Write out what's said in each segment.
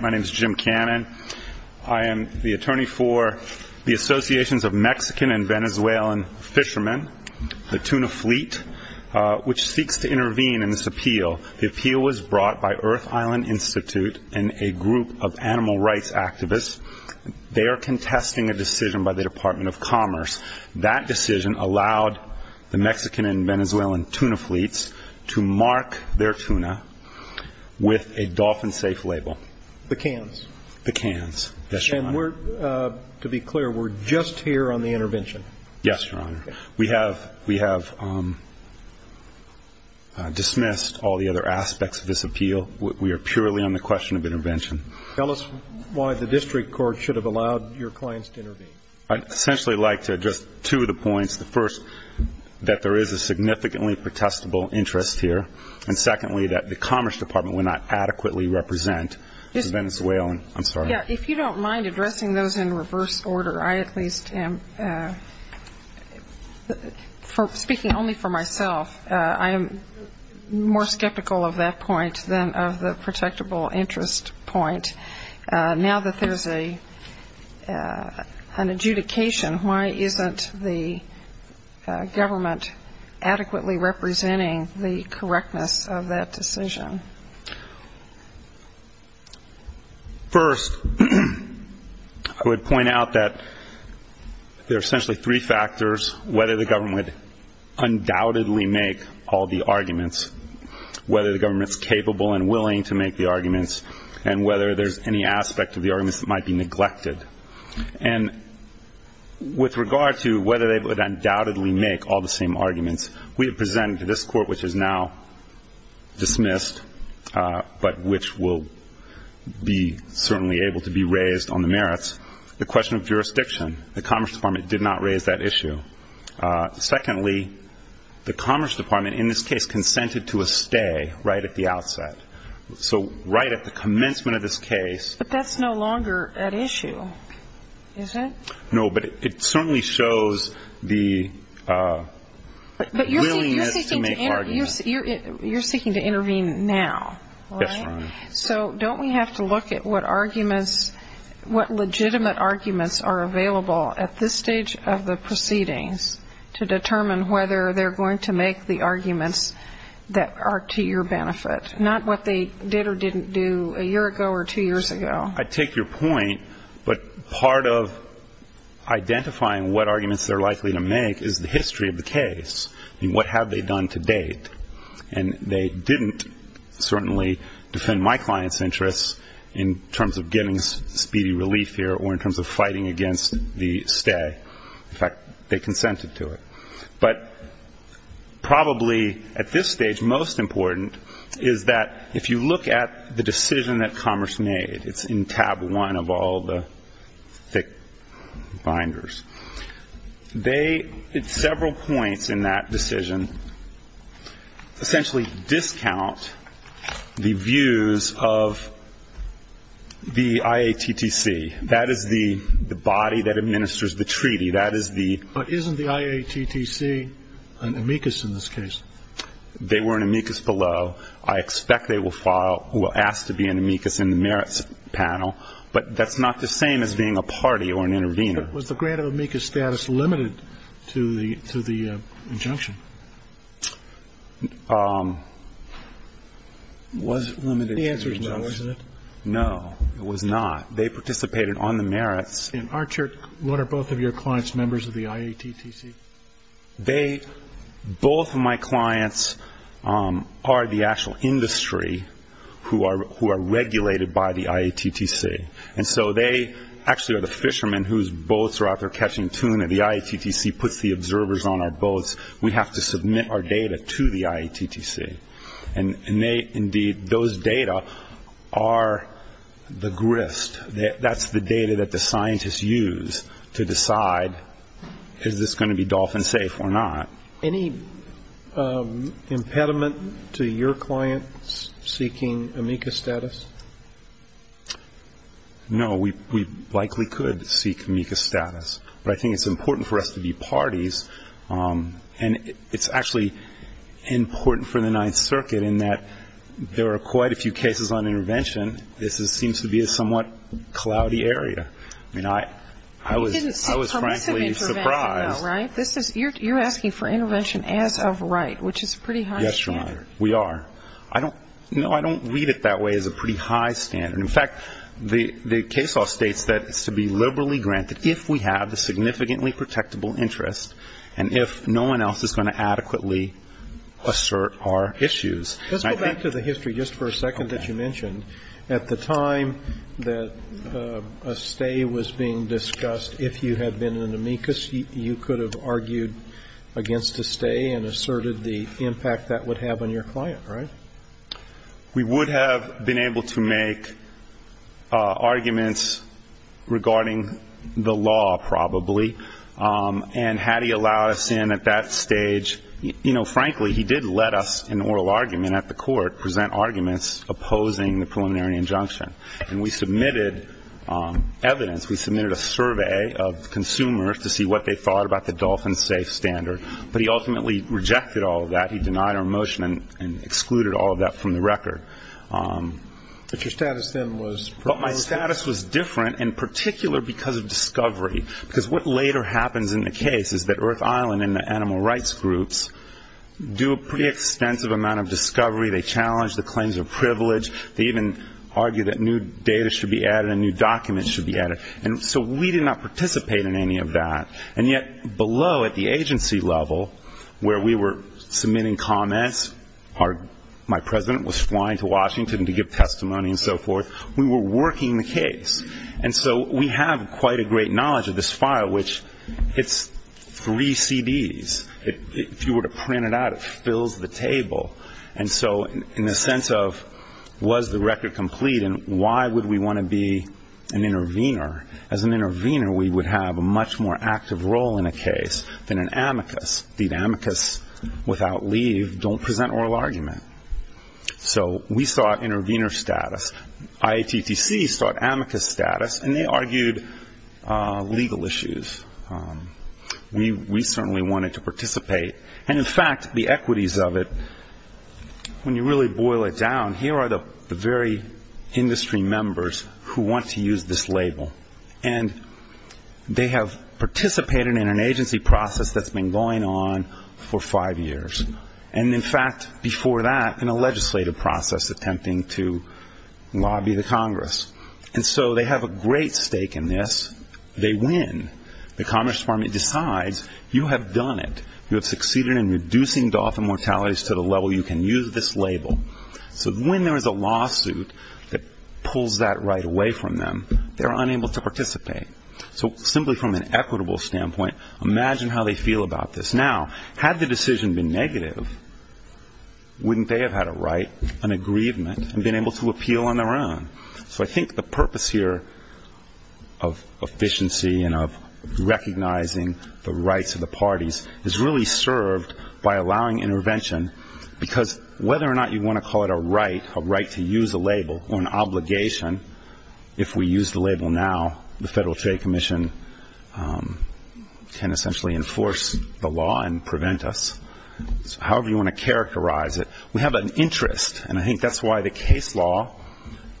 My name is Jim Cannon. I am the attorney for the Associations of Mexican and Venezuelan Fishermen, the Tuna Fleet, which seeks to intervene in this appeal. The appeal was brought by Earth Island Institute and a group of animal rights activists. They are contesting a decision by the Department of Commerce. That decision allowed the Mexican and Venezuelan tuna fleets to mark their tuna with a dolphin-safe label. The cans. The cans. Yes, Your Honor. And we're, to be clear, we're just here on the intervention. Yes, Your Honor. We have dismissed all the other aspects of this appeal. We are purely on the question of intervention. Tell us why the district court should have allowed your clients to intervene. I'd essentially like to address two of the points. The first, that there is a significantly protestable interest here. And secondly, that the Commerce Department would not adequately represent the Venezuelan. I'm sorry. Yeah, if you don't mind addressing those in reverse order, I at least am. Speaking only for myself, I am more skeptical of that point than of the protectable interest point. Now that there's an adjudication, why isn't the government adequately representing the correctness of that decision? First, I would point out that there are essentially three factors, whether the government would undoubtedly make all the arguments, whether the government's capable and willing to make the arguments, and whether there's any aspect of the arguments that might be neglected. And with regard to whether they would undoubtedly make all the same arguments, we have presented to this Court, which is now dismissed, but which will be certainly able to be raised on the merits, the question of jurisdiction. The Commerce Department did not raise that issue. Secondly, the Commerce Department, in this case, consented to a stay right at the outset. So right at the commencement of this case... But that's no longer at issue, is it? No, but it certainly shows the willingness to make arguments. You're seeking to intervene now, right? Yes, Your Honor. So don't we have to look at what arguments, what legitimate arguments are available at this stage of the proceedings to determine whether they're going to make the arguments that are to your benefit, not what they did or didn't do a year ago or two years ago? I take your point, but part of identifying what arguments they're likely to make is the history of the case and what have they done to date. And they didn't certainly defend my client's interests in terms of getting speedy relief here or in terms of fighting against the stay. In fact, they consented to it. But probably at this stage, most important is that if you look at the decision that Commerce made, it's in tab one of all the thick binders. They, at several points in that decision, essentially discount the views of the IATTC. That is the body of the IATTC. That is the body that administers the treaty. That is the ---- But isn't the IATTC an amicus in this case? They were an amicus below. I expect they will file or ask to be an amicus in the merits panel. But that's not the same as being a party or an intervener. Was the grant of amicus status limited to the injunction? Was it limited to the injunction? The answer is no, isn't it? No, it was not. They participated on the merits. And what are both of your clients members of the IATTC? They, both of my clients, are the actual industry who are regulated by the IATTC. And so they actually are the fishermen whose boats are out there catching tuna. The IATTC puts the observers on our boats. We have to submit our data to the IATTC. And they, indeed, those data are the grist. That's the data that the scientists use to decide is this going to be dolphin safe or not. Any impediment to your clients seeking amicus status? No, we likely could seek amicus status. But I think it's important for us to be parties. And it's actually important for the Ninth Circuit in that there are quite a few cases on intervention. This seems to be a somewhat cloudy area. I mean, I was frankly surprised. You're asking for intervention as of right, which is a pretty high standard. Yes, Your Honor. We are. No, I don't read it that way as a pretty high standard. In fact, the case law states that it's to be liberally granted if we have the significantly protectable interest and if no one else is going to adequately assert our issues. Let's go back to the history just for a second that you mentioned. At the time that a stay was being discussed, if you had been in amicus, you could have argued against a stay and asserted the impact that would have on your client, right? We would have been able to make arguments regarding the law, probably. But I don't think that was the case. And had he allowed us in at that stage, you know, frankly, he did let us in an oral argument at the court present arguments opposing the preliminary injunction. And we submitted evidence. We submitted a survey of consumers to see what they thought about the Dolphin Safe Standard. But he ultimately rejected all of that. He denied our motion and excluded all of that from the record. But your status then was proposed? Our status was different, in particular because of discovery. Because what later happens in the case is that Earth Island and the animal rights groups do a pretty extensive amount of discovery. They challenge the claims of privilege. They even argue that new data should be added and new documents should be added. And so we did not participate in any of that. And yet below at the agency level, where we were submitting comments, my president was And so we have quite a great knowledge of this file, which it's three CDs. If you were to print it out, it fills the table. And so in the sense of was the record complete and why would we want to be an intervener, as an intervener we would have a much more active role in a case than an amicus. The amicus, without leave, don't present oral argument. So we sought intervener status. IATTC sought amicus status. And they argued legal issues. We certainly wanted to participate. And in fact, the equities of it, when you really boil it down, here are the very industry members who want to use this label. And they have participated in an agency process that's been going on for five years. And in fact, before that in a legislative process attempting to lobby the Congress. And so they have a great stake in this. They win. The Commerce Department decides you have done it. You have succeeded in reducing Dothan mortalities to the level you can use this label. So when there is a lawsuit that pulls that right away from them, they're unable to participate. So simply from an equitable standpoint, imagine how they feel about this. Now, had the decision been negative, wouldn't they have had a right, an aggrievement, and been able to appeal on their own? So I think the purpose here of efficiency and of recognizing the rights of the parties is really served by allowing intervention. Because whether or not you want to call it a right, a right to use a label, or an obligation, if we use the label now, the Federal Trade Administration, however you want to characterize it, we have an interest. And I think that's why the case law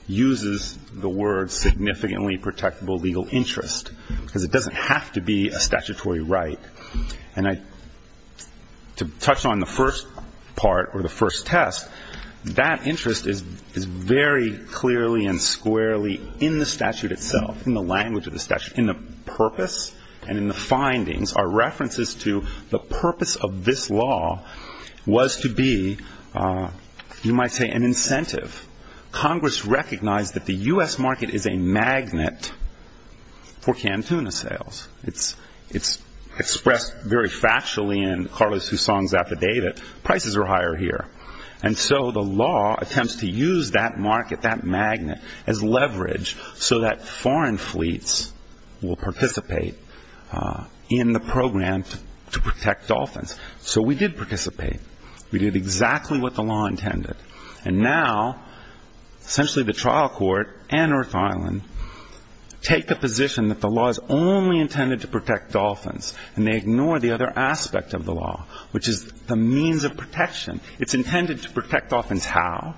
uses the word significantly protectable legal interest. Because it doesn't have to be a statutory right. And to touch on the first part or the first test, that interest is very clearly and squarely in the statute itself, in the language of the statute, in the purpose, and in the findings are references to the purpose of this law was to be, you might say, an incentive. Congress recognized that the U.S. market is a magnet for canned tuna sales. It's expressed very factually in Carlos Hussong's affidavit, prices are higher here. And so the law attempts to use that market, that magnet, as leverage so that the U.S. market will participate in the program to protect dolphins. So we did participate. We did exactly what the law intended. And now, essentially the trial court and Earth Island take the position that the law is only intended to protect dolphins, and they ignore the other aspect of the law, which is the means of protection. It's intended to protect dolphins how?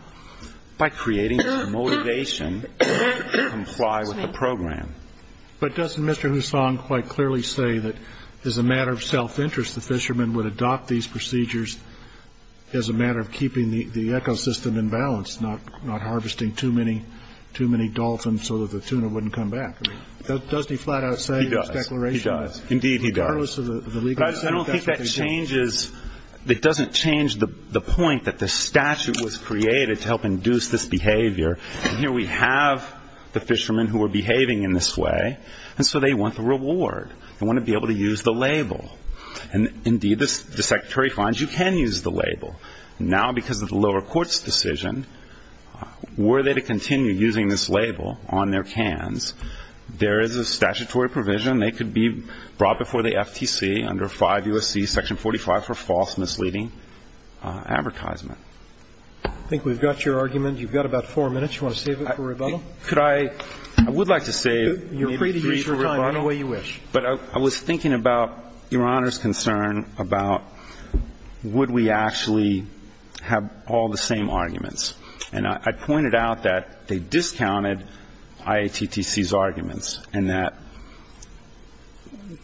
By creating a motivation to comply with the program. But doesn't Mr. Hussong quite clearly say that as a matter of self-interest, the fishermen would adopt these procedures as a matter of keeping the ecosystem in balance, not harvesting too many dolphins so that the tuna wouldn't come back? Doesn't he flat out say in his declaration? He does. He does. Indeed, he does. Regardless of the legal aspect, that's what they do. But I don't think that changes, it doesn't change the point that the statute was created to help induce this behavior. And here we have the fishermen who are behaving in this way, and so they want the reward. They want to be able to use the label. And indeed, the Secretary finds you can use the label. Now, because of the lower court's decision, were they to continue using this label on their cans, there is a statutory provision they could be brought before the FTC under 5 U.S.C. section 45 for false misleading advertisement. I think we've got your argument. You've got about four minutes. You want to save it for rebuttal? Could I – I would like to save maybe three for rebuttal. You're free to use your time any way you wish. But I was thinking about Your Honor's concern about would we actually have all the same arguments. And I pointed out that they discounted IATTC's arguments and that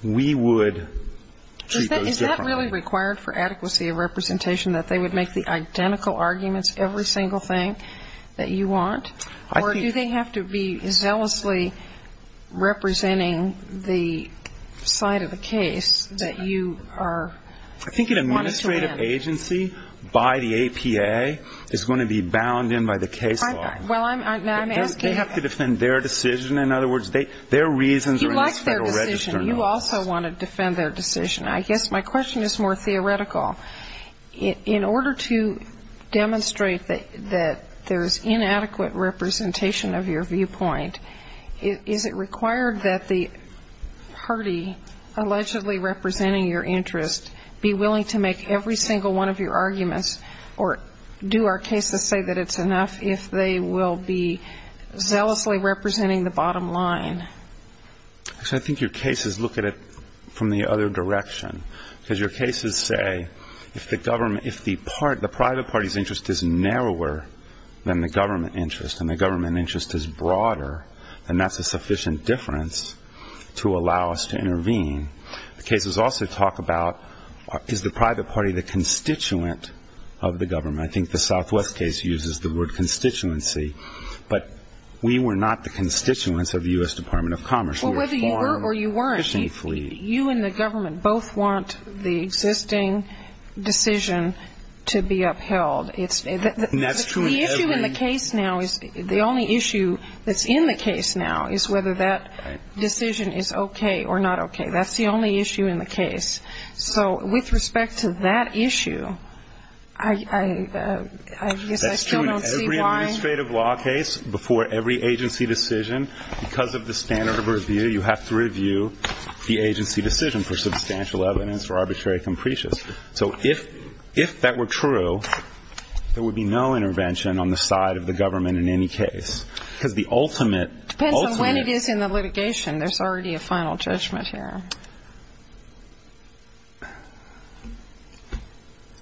we would treat those differently. Is it really required for adequacy of representation that they would make the identical arguments every single thing that you want? Or do they have to be zealously representing the side of the case that you are wanting to win? I think an administrative agency by the APA is going to be bound in by the case law. Well, I'm asking – They have to defend their decision. In other words, their reasons are in this Federal Register You also want to defend their decision. I guess my question is more theoretical. In order to demonstrate that there's inadequate representation of your viewpoint, is it required that the party allegedly representing your interest be willing to make every single one of your arguments? Or do our cases say that it's enough if they will be zealously representing the bottom line? Actually, I think your cases look at it from the other direction. Because your cases say if the government – if the private party's interest is narrower than the government interest and the government interest is broader, then that's a sufficient difference to allow us to intervene. The cases also talk about is the private party the constituent of the government? I think the Southwest case uses the word constituency. But we were not the constituents of the U.S. Department of Commerce. We were foreign fishing flea. Well, whether you were or you weren't, you and the government both want the existing decision to be upheld. And that's true in every – The issue in the case now is – the only issue that's in the case now is whether that decision is okay or not okay. That's the only issue in the case. So with respect to that issue, I guess I still don't see why – You have to review the agency decision for substantial evidence, for arbitrary comprehensives. So if that were true, there would be no intervention on the side of the government in any case. Because the ultimate – It depends on when it is in the litigation. There's already a final judgment here.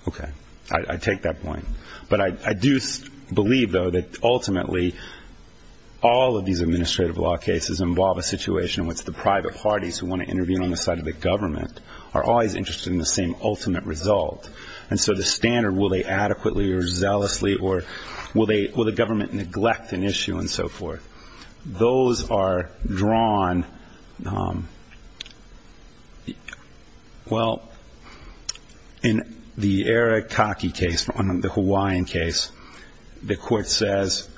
Okay. I take that point. But I do believe, though, that ultimately all of these administrative law cases involve a situation in which the private parties who want to intervene on the side of the government are always interested in the same ultimate result. And so the standard will they adequately or zealously or will they – will the government neglect an issue and so forth. Those are drawn – well, in the Arikake case, the Hawaiian case, the court is not going to neglect an issue.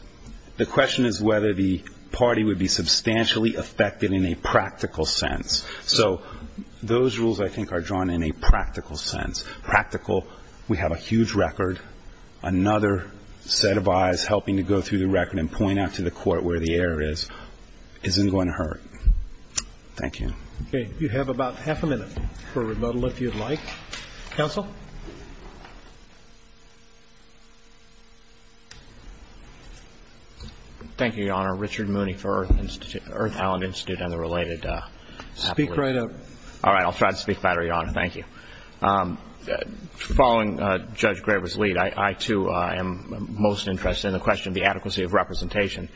The question is whether the party would be substantially affected in a practical sense. So those rules, I think, are drawn in a practical sense. Practical – we have a huge record. Another set of eyes helping to go through the record and point out to the court where the error is isn't going to hurt. Thank you. Okay. You have about half a minute for rebuttal, if you'd like. Counsel? Thank you, Your Honor. Richard Mooney for Earth Island Institute and the related appellate. Speak right up. All right. I'll try to speak better, Your Honor. Thank you. Following Judge Graber's lead, I, too, am most interested in the question of the adequacy of representation.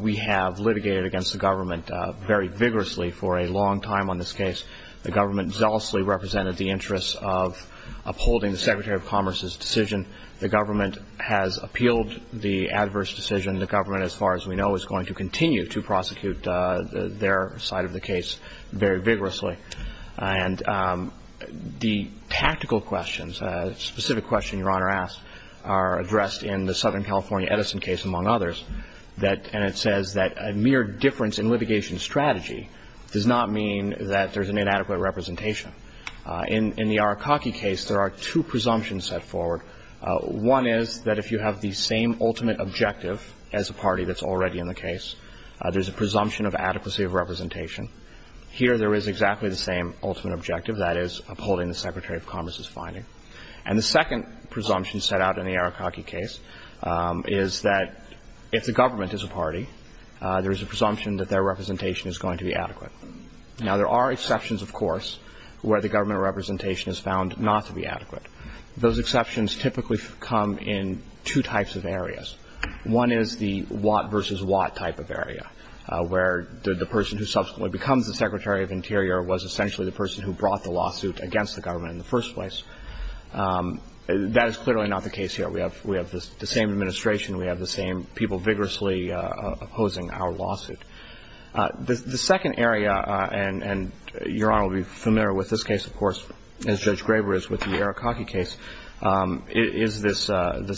We have litigated against the government very vigorously for a long time on this case. The government zealously represented the interests of upholding the Secretary of Commerce's decision. The government has appealed the adverse decision. And the government, as far as we know, is going to continue to prosecute their side of the case very vigorously. And the tactical questions, specific question Your Honor asked, are addressed in the Southern California Edison case, among others, that – and it says that a mere difference in litigation strategy does not mean that there's an inadequate representation. In the Arakaki case, there are two presumptions set forward. One is that if you have the same ultimate objective as a party that's already in the case, there's a presumption of adequacy of representation. Here, there is exactly the same ultimate objective, that is, upholding the Secretary of Commerce's finding. And the second presumption set out in the Arakaki case is that if the government is a party, there is a presumption that their representation is going to be adequate. Now, there are exceptions, of course, where the government representation is found not to be adequate. Those exceptions typically come in two types of areas. One is the Watt v. Watt type of area, where the person who subsequently becomes the Secretary of Interior was essentially the person who brought the lawsuit against the government in the first place. That is clearly not the case here. We have the same administration. We have the same people vigorously opposing our lawsuit. The second area, and Your Honor will be familiar with this case, of course, as Judge Graber is with the Arakaki case, is this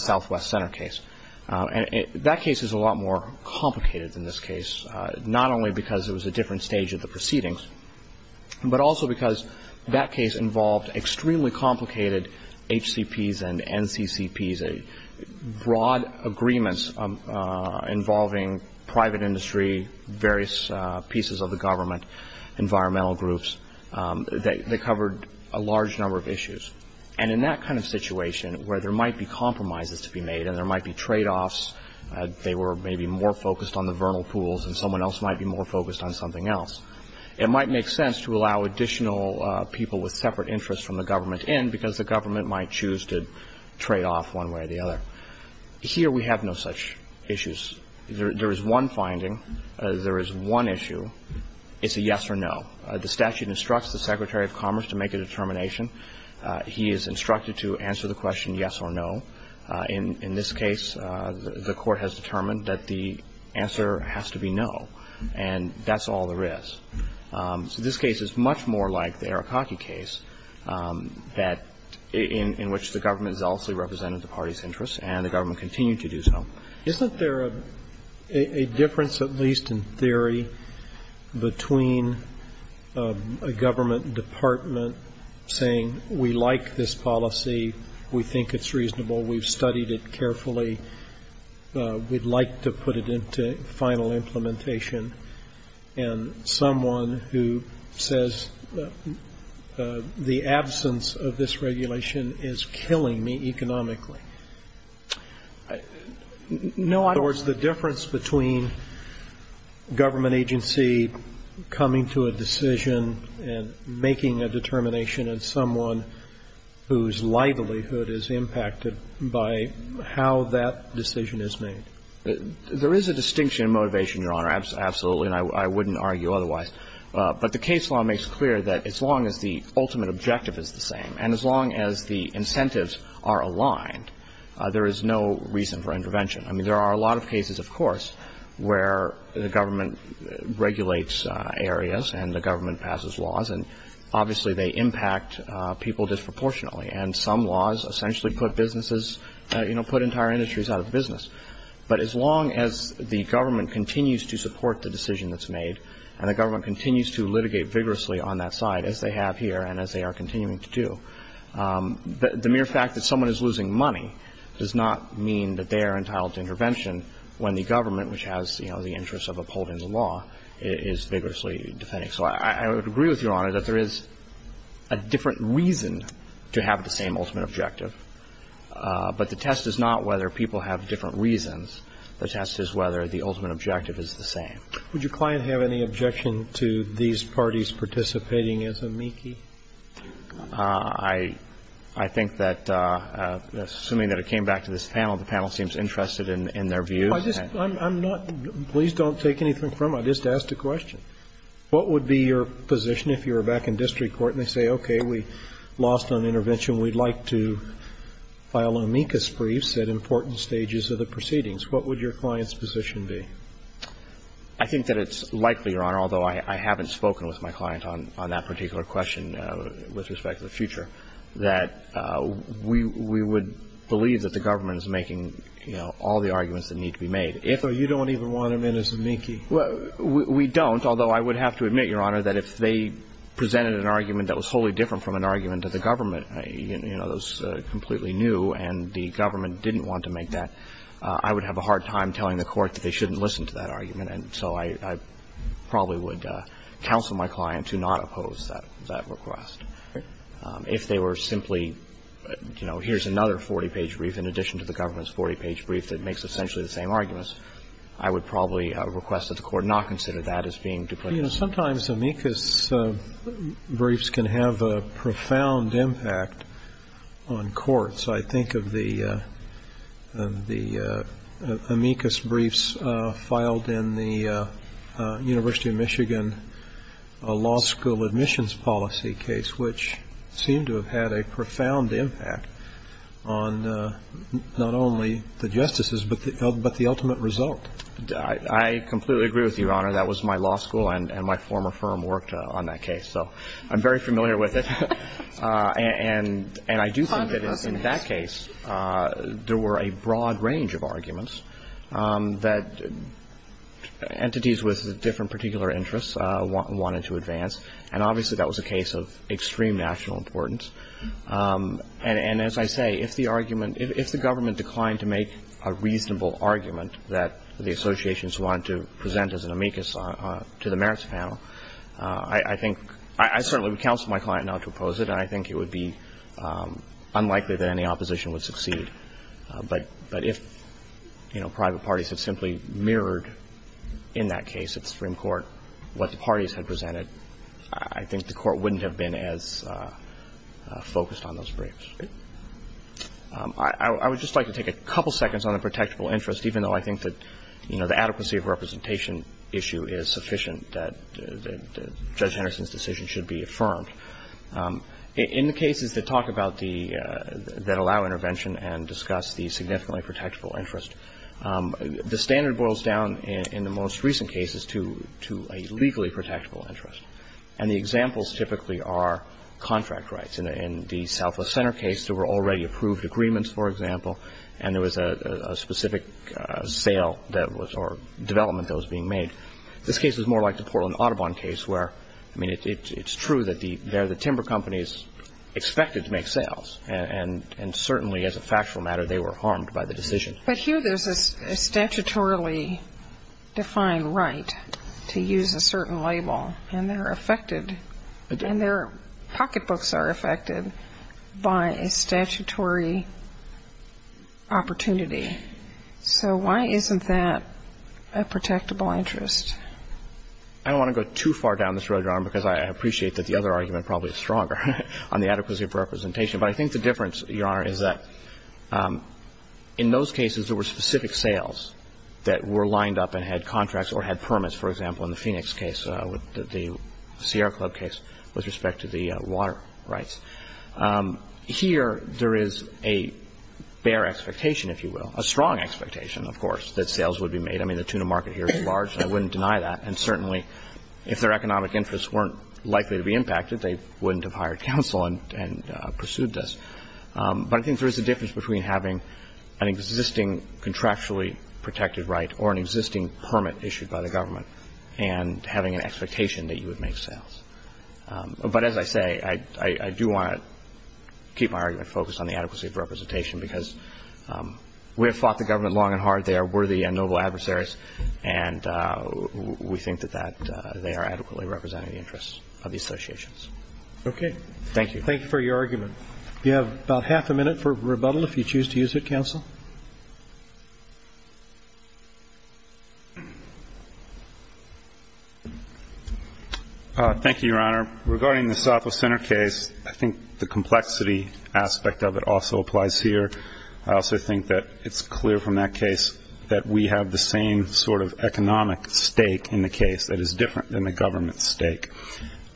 Southwest Center case. And that case is a lot more complicated than this case, not only because it was a different stage of the proceedings, but also because that case involved extremely complicated HCPs and NCCPs, various pieces of the government, environmental groups. They covered a large number of issues. And in that kind of situation, where there might be compromises to be made and there might be tradeoffs, they were maybe more focused on the vernal pools and someone else might be more focused on something else, it might make sense to allow additional people with separate interests from the government in because the government might choose to trade off one way or the other. So here we have no such issues. There is one finding. There is one issue. It's a yes or no. The statute instructs the Secretary of Commerce to make a determination. He is instructed to answer the question yes or no. In this case, the Court has determined that the answer has to be no. And that's all there is. So this case is much more like the Arakaki case that – in which the government zealously represented the party's interests, and the government continued to do so. Roberts. Isn't there a difference, at least in theory, between a government department saying, we like this policy, we think it's reasonable, we've studied it carefully, we'd like to put it into final implementation, and someone who says the absence of this regulation is killing me economically? No, I don't think so. In other words, the difference between government agency coming to a decision and making a determination and someone whose livelihood is impacted by how that decision is made. There is a distinction in motivation, Your Honor, absolutely, and I wouldn't argue otherwise. But the case law makes clear that as long as the ultimate objective is the same, and as long as the incentives are aligned, there is no reason for intervention. I mean, there are a lot of cases, of course, where the government regulates areas and the government passes laws, and obviously they impact people disproportionately. And some laws essentially put businesses – you know, put entire industries out of business. But as long as the government continues to And the government continues to litigate vigorously on that side, as they have here and as they are continuing to do, the mere fact that someone is losing money does not mean that they are entitled to intervention when the government, which has, you know, the interest of upholding the law, is vigorously defending. So I would agree with Your Honor that there is a different reason to have the same ultimate objective, but the test is not whether people have different reasons. The test is whether the ultimate objective is the same. Would your client have any objection to these parties participating as amici? I think that, assuming that it came back to this panel, the panel seems interested in their views. I'm not – please don't take anything from it. I just asked a question. What would be your position if you were back in district court and they say, okay, we lost on intervention, we'd like to file amicus briefs at important stages of the proceedings? What would your client's position be? I think that it's likely, Your Honor, although I haven't spoken with my client on that particular question with respect to the future, that we would believe that the government is making, you know, all the arguments that need to be made. If or you don't even want them in as amici. Well, we don't, although I would have to admit, Your Honor, that if they presented an argument that was wholly different from an argument of the government, you know, those completely new, and the government didn't want to make that, I would have a hard time telling the court that they shouldn't listen to that argument. And so I probably would counsel my client to not oppose that request. If they were simply, you know, here's another 40-page brief in addition to the government's 40-page brief that makes essentially the same arguments, I would probably request that the court not consider that as being duplicitous. You know, sometimes amicus briefs can have a profound impact on courts. I think of the amicus briefs filed in the University of Michigan law school admissions policy case, which seemed to have had a profound impact on not only the justices, but the ultimate result. I completely agree with you, Your Honor. That was my law school, and my former firm worked on that case. So I'm very familiar with it. And I do think that in that case, there were a broad range of arguments that entities with different particular interests wanted to advance, and obviously that was a case of extreme national importance. And as I say, if the argument – if the government declined to make a reasonable argument that the associations wanted to present as an amicus to the merits panel, I think I certainly would counsel my client not to oppose it, and I think it would be unlikely that any opposition would succeed. But if, you know, private parties had simply mirrored in that case at Supreme Court what the parties had presented, I think the court wouldn't have been as focused on those briefs. I would just like to take a couple seconds on the protectable interest, even though I think that, you know, the adequacy of representation issue is sufficient, and that Judge Henderson's decision should be affirmed. In the cases that talk about the – that allow intervention and discuss the significantly protectable interest, the standard boils down in the most recent cases to a legally protectable interest, and the examples typically are contract rights. In the Southwest Center case, there were already approved agreements, for example, and there was a specific sale that was – or development that was being made. This case is more like the Portland Audubon case, where, I mean, it's true that the timber companies expected to make sales, and certainly, as a factual matter, they were harmed by the decision. But here there's a statutorily defined right to use a certain label, and they're affected, and their pocketbooks are affected by a statutory opportunity. So why isn't that a protectable interest? I don't want to go too far down this road, Your Honor, because I appreciate that the other argument probably is stronger on the adequacy of representation. But I think the difference, Your Honor, is that in those cases, there were specific sales that were lined up and had contracts or had permits, for example, in the Phoenix case, the Sierra Club case, with respect to the water rights. Here, there is a bare expectation, if you will, a strong expectation, of course, that sales would be made. I mean, the tuna market here is large, and I wouldn't deny that. And certainly, if their economic interests weren't likely to be impacted, they wouldn't have hired counsel and pursued this. But I think there is a difference between having an existing contractually protected right or an existing permit issued by the government and having an expectation that you would make sales. But as I say, I do want to keep my argument focused on the adequacy of representation, because we have fought the government long and hard. They are worthy and noble adversaries, and we think that they are adequately representing the interests of the associations. Okay. Thank you. Thank you for your argument. You have about half a minute for rebuttal, if you choose to use it, counsel. Thank you, Your Honor. Regarding the Southwest Center case, I think the complexity aspect of it also applies here. I also think that it's clear from that case that we have the same sort of economic stake in the case that is different than the government's stake.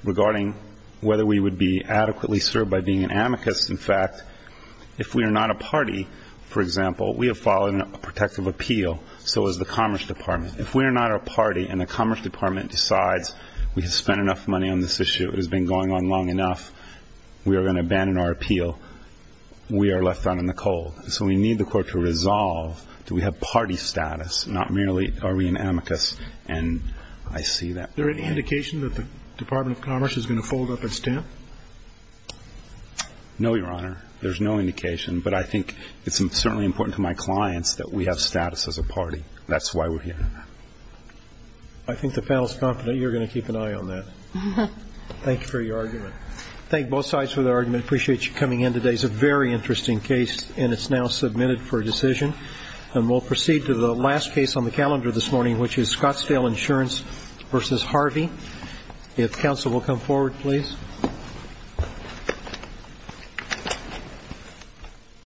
Regarding whether we would be adequately served by being an amicus, in fact, if we are not a party, for example, we have followed a protective appeal, so has the Commerce Department. If we are not a party and the Commerce Department decides we have spent enough money on this issue, it has been going on long enough, we are going to abandon our appeal, we are left out in the cold. So we need the court to resolve, do we have party status, not merely are we an amicus. And I see that. Is there any indication that the Department of Commerce is going to fold up its stamp? No, Your Honor. There's no indication. But I think it's certainly important to my clients that we have status as a party. That's why we're here. I think the panel is confident you're going to keep an eye on that. Thank you for your argument. Thank both sides for their argument. I appreciate you coming in today. It's a very interesting case, and it's now submitted for a decision. And we'll proceed to the last case on the calendar this morning, which is Scottsdale Insurance v. Harvey. If counsel will come forward, please. Thank you.